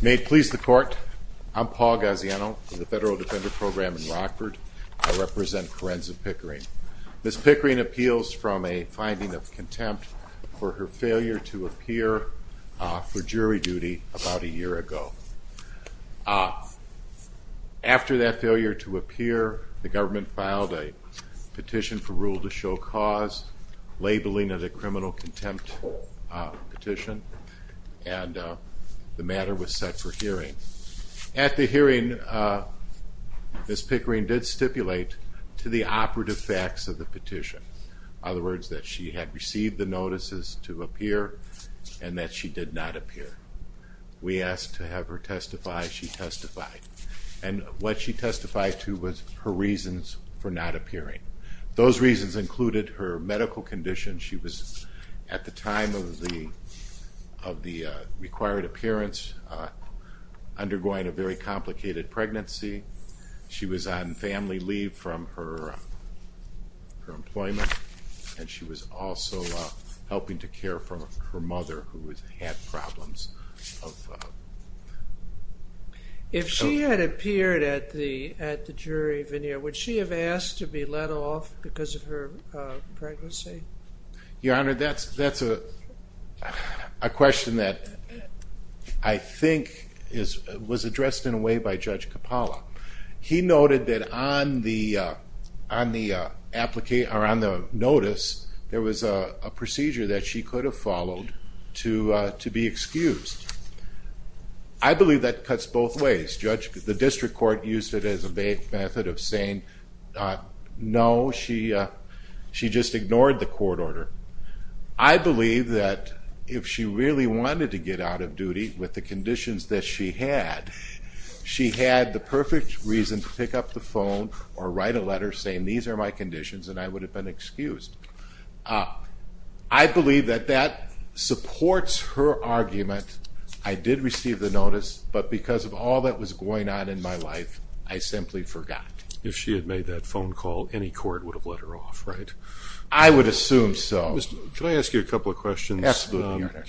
May it please the court, I'm Paul Gaziano for the Federal Defender Program in Rockford. I represent Karenza Pickering. Ms. Pickering appeals from a finding of contempt for her failure to appear for jury duty about a year ago. After that failure to appear, the government filed a petition for rule to show cause, labeling it a criminal contempt petition. And the matter was set for hearing. At the hearing, Ms. Pickering did stipulate to the operative facts of the petition. In other words, that she had received the notices to appear and that she did not appear. We asked to have her testify, she testified. And what she testified to was her reasons for not appearing. Those reasons included her medical condition, she was at the time of the required appearance, undergoing a very complicated pregnancy, she was on family leave from her employment, and she was also helping to care for her mother who had problems. If she had appeared at the jury veneer, would she have asked to be let off because of her pregnancy? Your Honor, that's a question that I think was addressed in a way by Judge Capalla. He noted that on the notice, there was a procedure that she could have followed to be excused. I believe that cuts both ways. Judge, the district court used it as a method of saying, no, she just ignored the court order. I believe that if she really wanted to get out of duty, with the conditions that she had, she had the perfect reason to pick up the phone or write a letter saying these are my conditions and I would have been excused. I believe that that supports her argument, I did receive the notice, but because of all that was going on in my life, I simply forgot. If she had made that phone call, any court would have let her off, right? I would assume so. Could I ask you a couple of questions? Absolutely, Your Honor.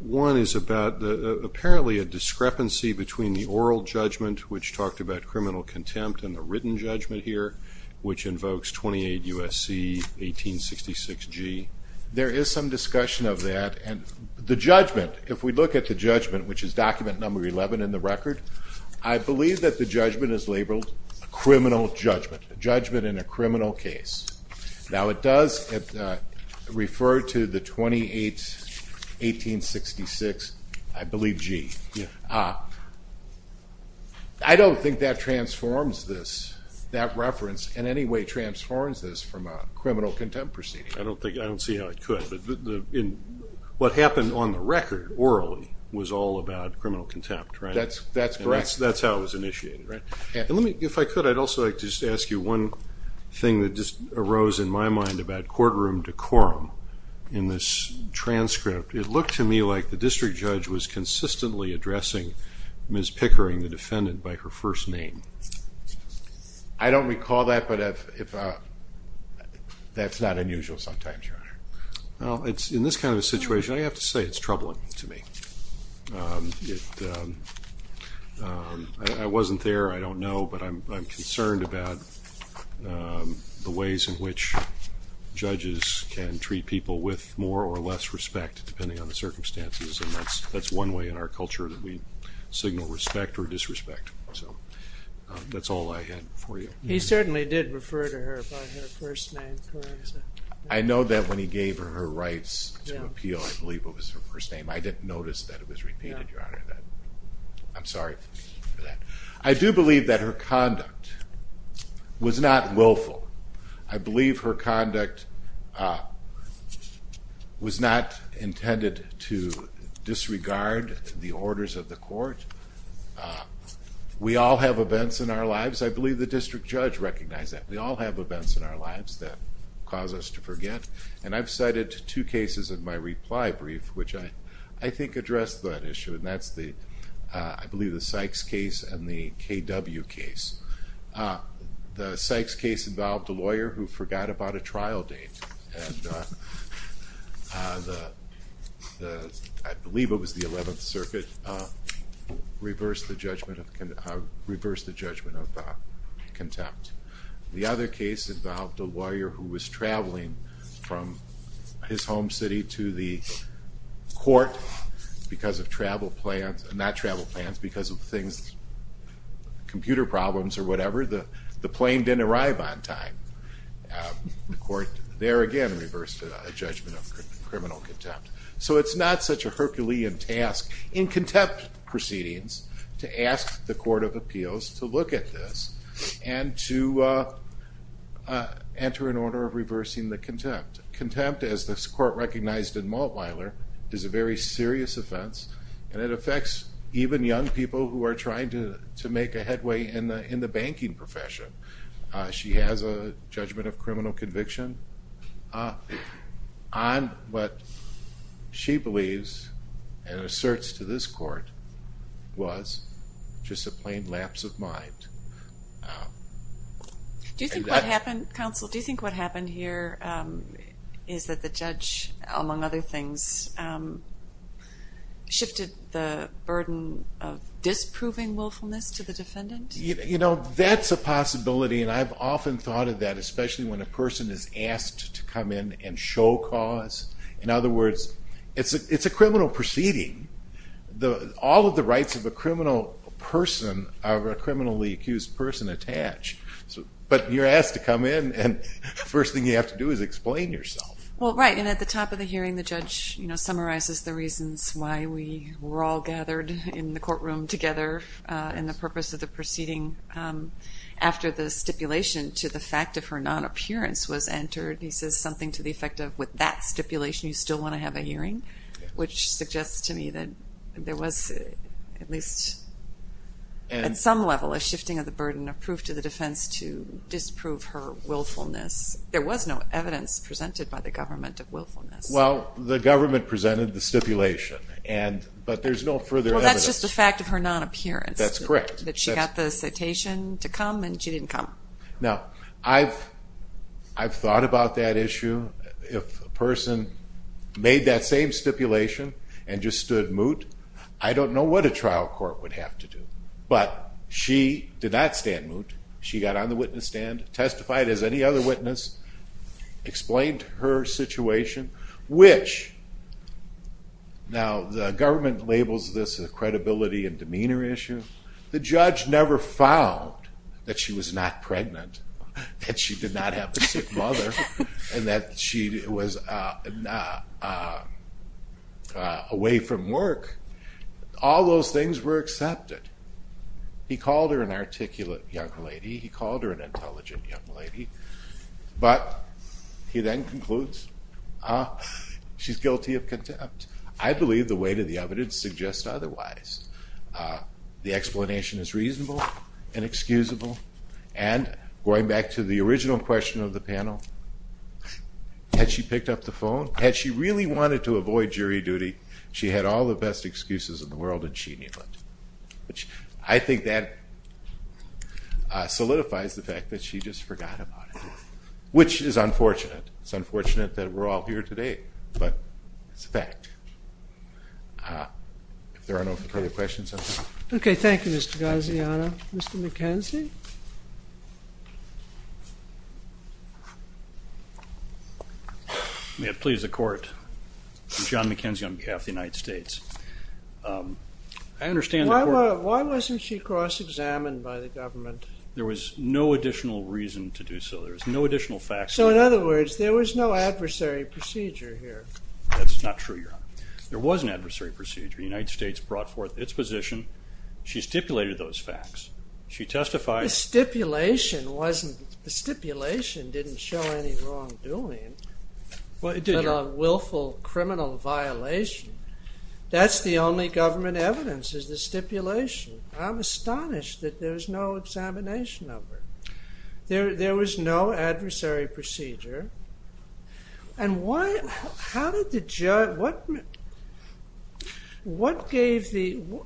One is about apparently a discrepancy between the oral judgment, which talked about criminal contempt, and the written judgment here, which invokes 28 U.S.C. 1866 G. There is some discussion of that. The judgment, if we look at the judgment, which is document number 11 in the record, I believe that the judgment is labeled a criminal judgment, a judgment in a criminal case. Now it does refer to the 28th 1866, I believe G. I don't think that transforms this, that reference in any way transforms this from a criminal contempt proceeding. I don't see how it could. What happened on the record, orally, was all about criminal contempt, right? That's correct. That's how it was initiated, right? If I could, I'd also like to just ask you one thing that just arose in my mind about courtroom decorum. In this transcript, it looked to me like the district judge was consistently addressing Ms. Pickering, the defendant, by her first name. I don't recall that, but that's not unusual sometimes, Your Honor. In this kind of a situation, I have to say it's troubling to me. I wasn't there, I don't know, but I'm concerned about the ways in which judges can treat people with more or less respect, depending on the circumstances, and that's one way in our culture that we signal respect or disrespect. So that's all I had for you. He certainly did refer to her by her first name. I know that when he gave her her rights to appeal, I believe it was her first name. I didn't notice that it was repeated, Your Honor. I'm sorry for that. I do believe that her conduct was not willful. I believe her conduct was not intended to disregard the orders of the court. We all have events in our lives. I believe the district judge recognized that. We all have events in our lives that cause us to forget, and I've cited two cases in my reply brief which I think address that issue, and that's I believe the Sykes case and the KW case. The Sykes case involved a lawyer who forgot about a trial date, and I believe it was the 11th Circuit, reversed the judgment of contempt. The other case involved a lawyer who was traveling from his home city to the court because of travel plans, not travel plans, because of computer problems or whatever. The plane didn't arrive on time. The court there again reversed a judgment of criminal contempt. So it's not such a Herculean task in contempt proceedings to ask the Court of Appeals to look at this and to enter an order of reversing the contempt. Contempt, as this court recognized in Maltweiler, is a very serious offense, and it affects even young people who are trying to make a headway in the banking profession. She has a judgment of criminal conviction on what she believes and asserts to this court was just a plain lapse of mind. Do you think what happened, Counsel, do you think what happened here is that the judge, among other things, shifted the burden of disproving willfulness to the defendant? You know, that's a possibility, and I've often thought of that, especially when a person is asked to come in and show cause. In other words, it's a criminal proceeding. All of the rights of a criminal person are a criminally accused person attached. But you're asked to come in, and the first thing you have to do is explain yourself. Well, right, and at the top of the hearing, the judge summarizes the reasons why we were all gathered in the courtroom together in the purpose of the proceeding. After the stipulation to the fact of her non-appearance was entered, he says something to the effect of with that stipulation you still want to have a hearing, which suggests to me that there was at least at some level a shifting of the burden of proof to the defense to disprove her willfulness. There was no evidence presented by the government of willfulness. Well, the government presented the stipulation, but there's no further evidence. Well, that's just the fact of her non-appearance. That's correct. That she got the citation to come, and she didn't come. Now, I've thought about that issue. If a person made that same stipulation and just stood moot, I don't know what a trial court would have to do. But she did not stand moot. She got on the witness stand, testified as any other witness, explained her situation, which now the government labels this a credibility and demeanor issue. The judge never found that she was not pregnant, that she did not have a sick mother, and that she was away from work. All those things were accepted. He called her an articulate young lady. He called her an intelligent young lady. But he then concludes she's guilty of contempt. I believe the weight of the evidence suggests otherwise. The explanation is reasonable and excusable. And going back to the original question of the panel, had she picked up the phone, had she really wanted to avoid jury duty, she had all the best excuses in the world, and she knew it. I think that solidifies the fact that she just forgot about it, which is unfortunate. It's unfortunate that we're all here today, but it's a fact. If there are no further questions, I'm done. Okay, thank you, Mr. Gaziano. Mr. McKenzie? May it please the Court. John McKenzie on behalf of the United States. I understand the Court- Why wasn't she cross-examined by the government? There was no additional reason to do so. There was no additional facts- So, in other words, there was no adversary procedure here. That's not true, Your Honor. There was an adversary procedure. The United States brought forth its position. She stipulated those facts. She testified- The stipulation wasn't- The stipulation didn't show any wrongdoing, but a willful criminal violation. That's the only government evidence, is the stipulation. I'm astonished that there was no examination of her. There was no adversary procedure. What gave the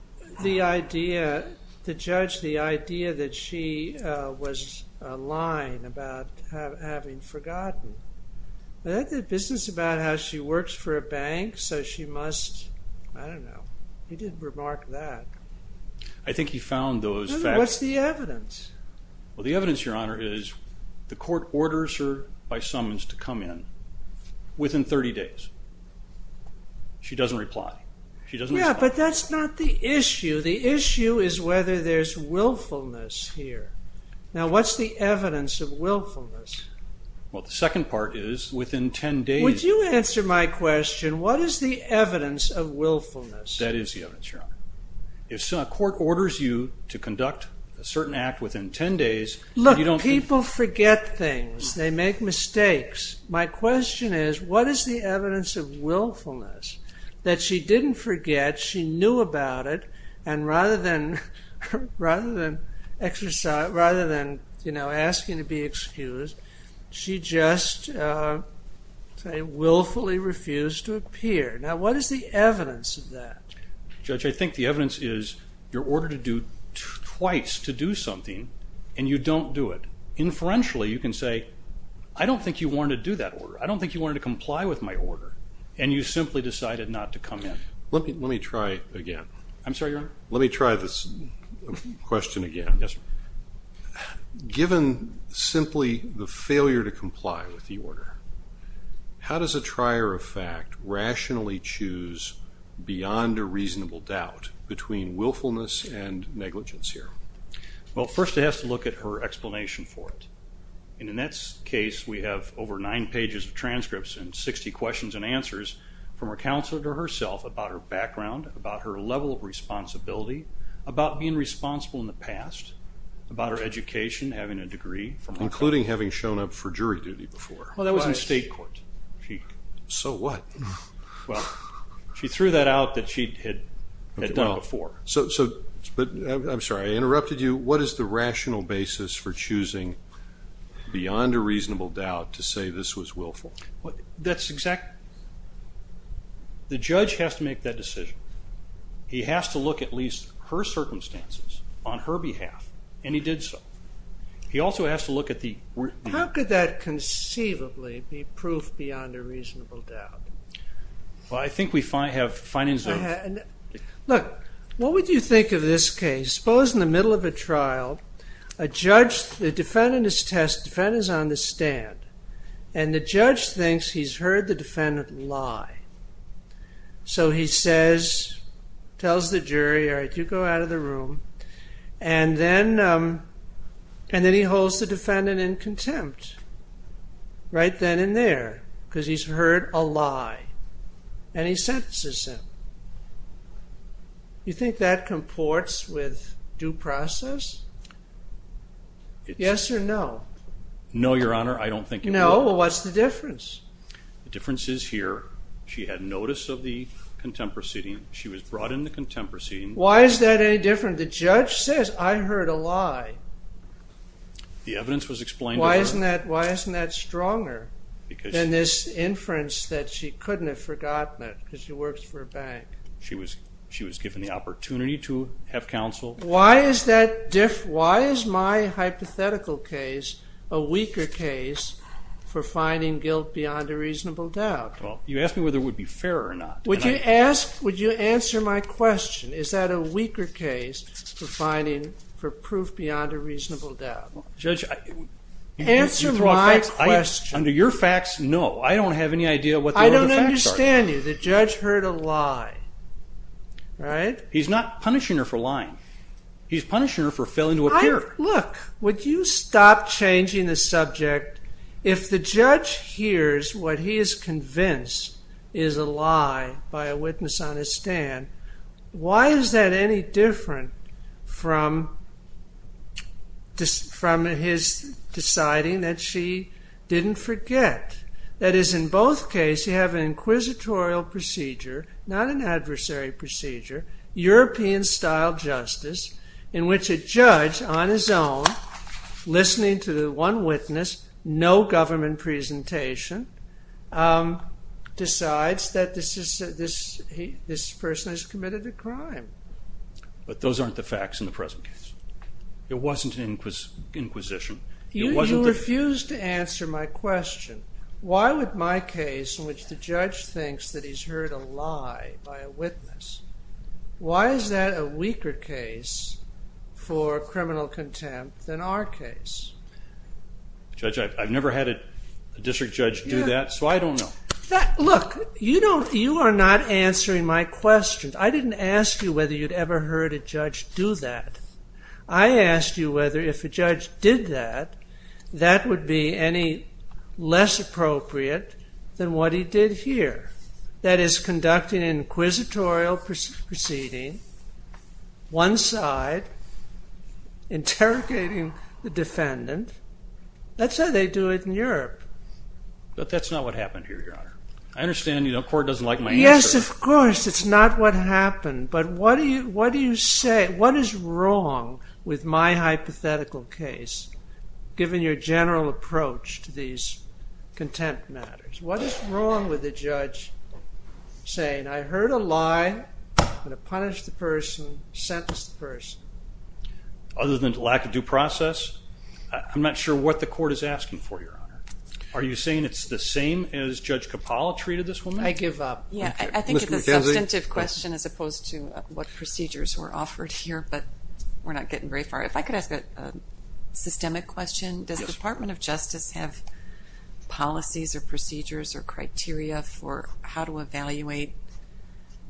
judge the idea that she was lying about having forgotten? That had business about how she works for a bank, so she must- I don't know. He didn't remark that. I think he found those facts- What's the evidence? Well, the evidence, Your Honor, is the Court orders her by summons to come in within 30 days. She doesn't reply. She doesn't respond. Yeah, but that's not the issue. The issue is whether there's willfulness here. Now, what's the evidence of willfulness? Well, the second part is within 10 days- Would you answer my question? What is the evidence of willfulness? That is the evidence, Your Honor. If a court orders you to conduct a certain act within 10 days, you don't- Look, people forget things. They make mistakes. My question is, what is the evidence of willfulness that she didn't forget, she knew about it, and rather than asking to be excused, she just willfully refused to appear? Now, what is the evidence of that? Judge, I think the evidence is your order to do twice to do something, and you don't do it. Inferentially, you can say, I don't think you wanted to do that order. I don't think you wanted to comply with my order, and you simply decided not to come in. Let me try again. I'm sorry, Your Honor? Let me try this question again. Yes, sir. Given simply the failure to comply with the order, how does a trier of fact rationally choose beyond a reasonable doubt between willfulness and negligence here? Well, first it has to look at her explanation for it. In Annette's case, we have over nine pages of transcripts and 60 questions and answers from her counselor to herself about her background, about her level of responsibility, about being responsible in the past, about her education, having a degree. Including having shown up for jury duty before. Well, that was in state court. So what? Well, she threw that out that she had done before. So, I'm sorry, I interrupted you. What is the rational basis for choosing beyond a reasonable doubt to say this was willful? That's exactly it. The judge has to make that decision. He has to look at least her circumstances on her behalf, and he did so. He also has to look at the... How could that conceivably be proof beyond a reasonable doubt? Well, I think we have findings of... Look, what would you think of this case? Suppose in the middle of a trial, a judge, the defendant is on the stand, and the judge thinks he's heard the defendant lie. So he says, tells the jury, all right, you go out of the room, and then he holds the defendant in contempt. Right then and there. Because he's heard a lie. And he sentences him. You think that comports with due process? Yes or no? No, Your Honor, I don't think... No? Well, what's the difference? The difference is here. She had notice of the contempt proceeding. She was brought into contempt proceeding. Why is that any different? The judge says, I heard a lie. The evidence was explained to her. Why isn't that stronger than this inference that she couldn't have forgotten it because she works for a bank? She was given the opportunity to have counsel. Why is that different? Well, you asked me whether it would be fair or not. Judge, answer my question. Under your facts, no. I don't have any idea what the facts are. I don't understand you. The judge heard a lie. Right? He's not punishing her for lying. He's punishing her for failing to appear. Look, would you stop changing the subject? If the judge hears what he is convinced is a lie by a witness on his stand, why is that any different from his deciding that she didn't forget? That is, in both cases, you have an inquisitorial procedure, not an adversary procedure, European-style justice, in which a judge, on his own, listening to the one witness, no government presentation, decides that this person has committed a crime. But those aren't the facts in the present case. It wasn't an inquisition. You refuse to answer my question. Why would my case, in which the judge thinks that he's heard a lie by a witness, why is that a weaker case for criminal contempt than our case? Judge, I've never had a district judge do that, so I don't know. Look, you are not answering my question. I didn't ask you whether you'd ever heard a judge do that. I asked you whether, if a judge did that, that would be any less appropriate than what he did here, that is, conducting an inquisitorial proceeding, one side interrogating the defendant. That's how they do it in Europe. But that's not what happened here, Your Honor. I understand the court doesn't like my answer. Yes, of course, it's not what happened. But what do you say? What is wrong with my hypothetical case, given your general approach to these contempt matters? What is wrong with the judge saying, I heard a lie, I'm going to punish the person, sentence the person? Other than lack of due process, I'm not sure what the court is asking for, Your Honor. Are you saying it's the same as Judge Capalla treated this woman? I give up. Yeah, I think it's a substantive question as opposed to what procedures were offered here, but we're not getting very far. If I could ask a systemic question, does the Department of Justice have policies or procedures or criteria for how to evaluate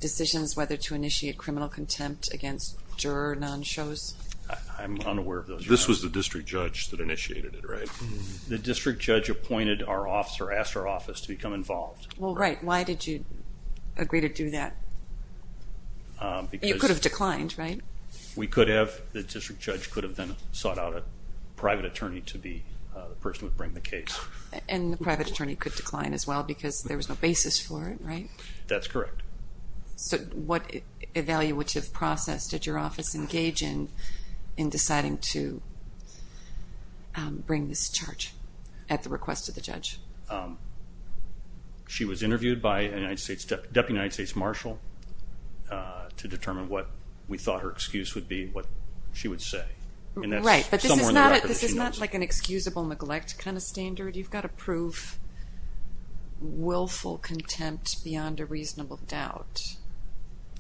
decisions, whether to initiate criminal contempt against juror nonshows? I'm unaware of those, Your Honor. This was the district judge that initiated it, right? The district judge appointed our office or asked our office to become involved. Well, right. Why did you agree to do that? You could have declined, right? We could have. But the district judge could have then sought out a private attorney to be the person who would bring the case. And the private attorney could decline as well because there was no basis for it, right? That's correct. So what evaluative process did your office engage in in deciding to bring this charge at the request of the judge? She was interviewed by a Deputy United States Marshal to determine what we thought her excuse would be, what she would say. Right, but this is not like an excusable neglect kind of standard. You've got to prove willful contempt beyond a reasonable doubt.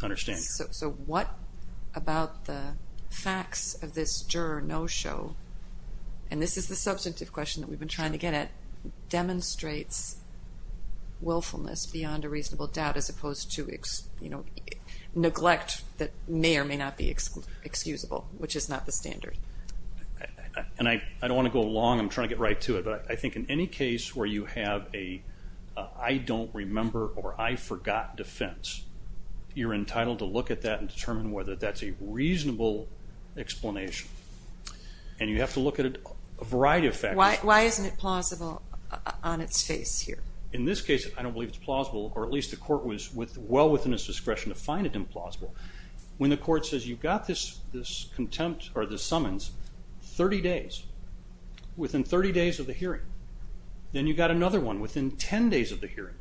I understand. So what about the facts of this juror no-show, and this is the substantive question that we've been trying to get at, demonstrates willfulness beyond a reasonable doubt as opposed to neglect that may or may not be excusable, which is not the standard. I don't want to go long. I'm trying to get right to it. But I think in any case where you have a I don't remember or I forgot defense, you're entitled to look at that and determine whether that's a reasonable explanation. And you have to look at a variety of factors. Why isn't it plausible on its face here? In this case, I don't believe it's plausible, or at least the court was well within its discretion to find it implausible. When the court says you've got this contempt or this summons 30 days, within 30 days of the hearing, then you've got another one within 10 days of the hearing,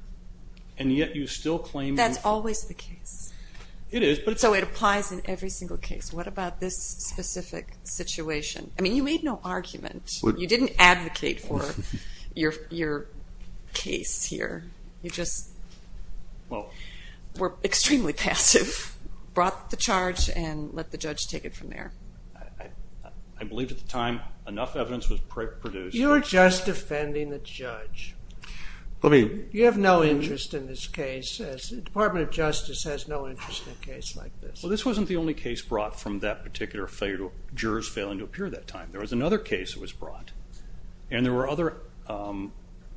and yet you still claim. That's always the case. It is. So it applies in every single case. What about this specific situation? I mean, you made no argument. You didn't advocate for your case here. You just were extremely passive, brought the charge, and let the judge take it from there. I believe at the time enough evidence was produced. You're just offending the judge. You have no interest in this case. The Department of Justice has no interest in a case like this. Well, this wasn't the only case brought from that particular jurors failing to appear that time. There was another case that was brought, and there were other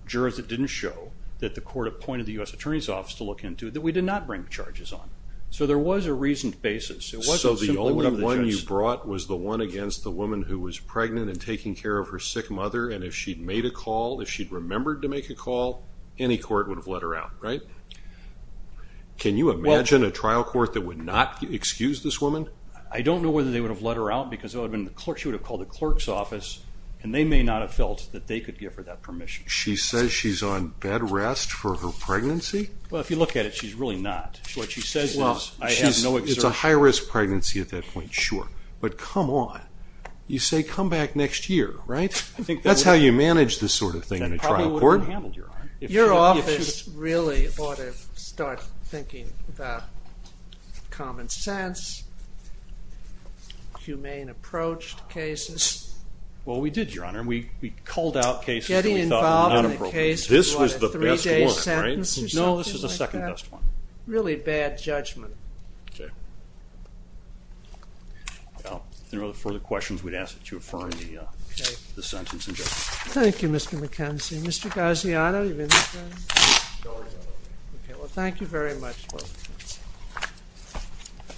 jurors that didn't show, that the court appointed the U.S. Attorney's Office to look into, that we did not bring charges on. So there was a reasoned basis. So the only one you brought was the one against the woman who was pregnant and taking care of her sick mother, and if she'd made a call, if she'd remembered to make a call, any court would have let her out, right? Can you imagine a trial court that would not excuse this woman? I don't know whether they would have let her out because she would have called the clerk's office, and they may not have felt that they could give her that permission. She says she's on bed rest for her pregnancy? Well, if you look at it, she's really not. What she says is, I have no exertion. Well, it's a high-risk pregnancy at that point, sure. But come on. You say, come back next year, right? That's how you manage this sort of thing in a trial court. Your office really ought to start thinking about common sense, humane approach to cases. Well, we did, Your Honor. We culled out cases that we thought were not appropriate. Getting involved in a case for a three-day sentence or something like that? No, this is the second-best one. Really bad judgment. Okay. Well, if there are no further questions, we'd ask that you affirm the sentence and judgment. Thank you, Mr. McKenzie. Mr. Gaziano, are you with us? No, I'm not. Okay, well, thank you very much, Mr. McKenzie.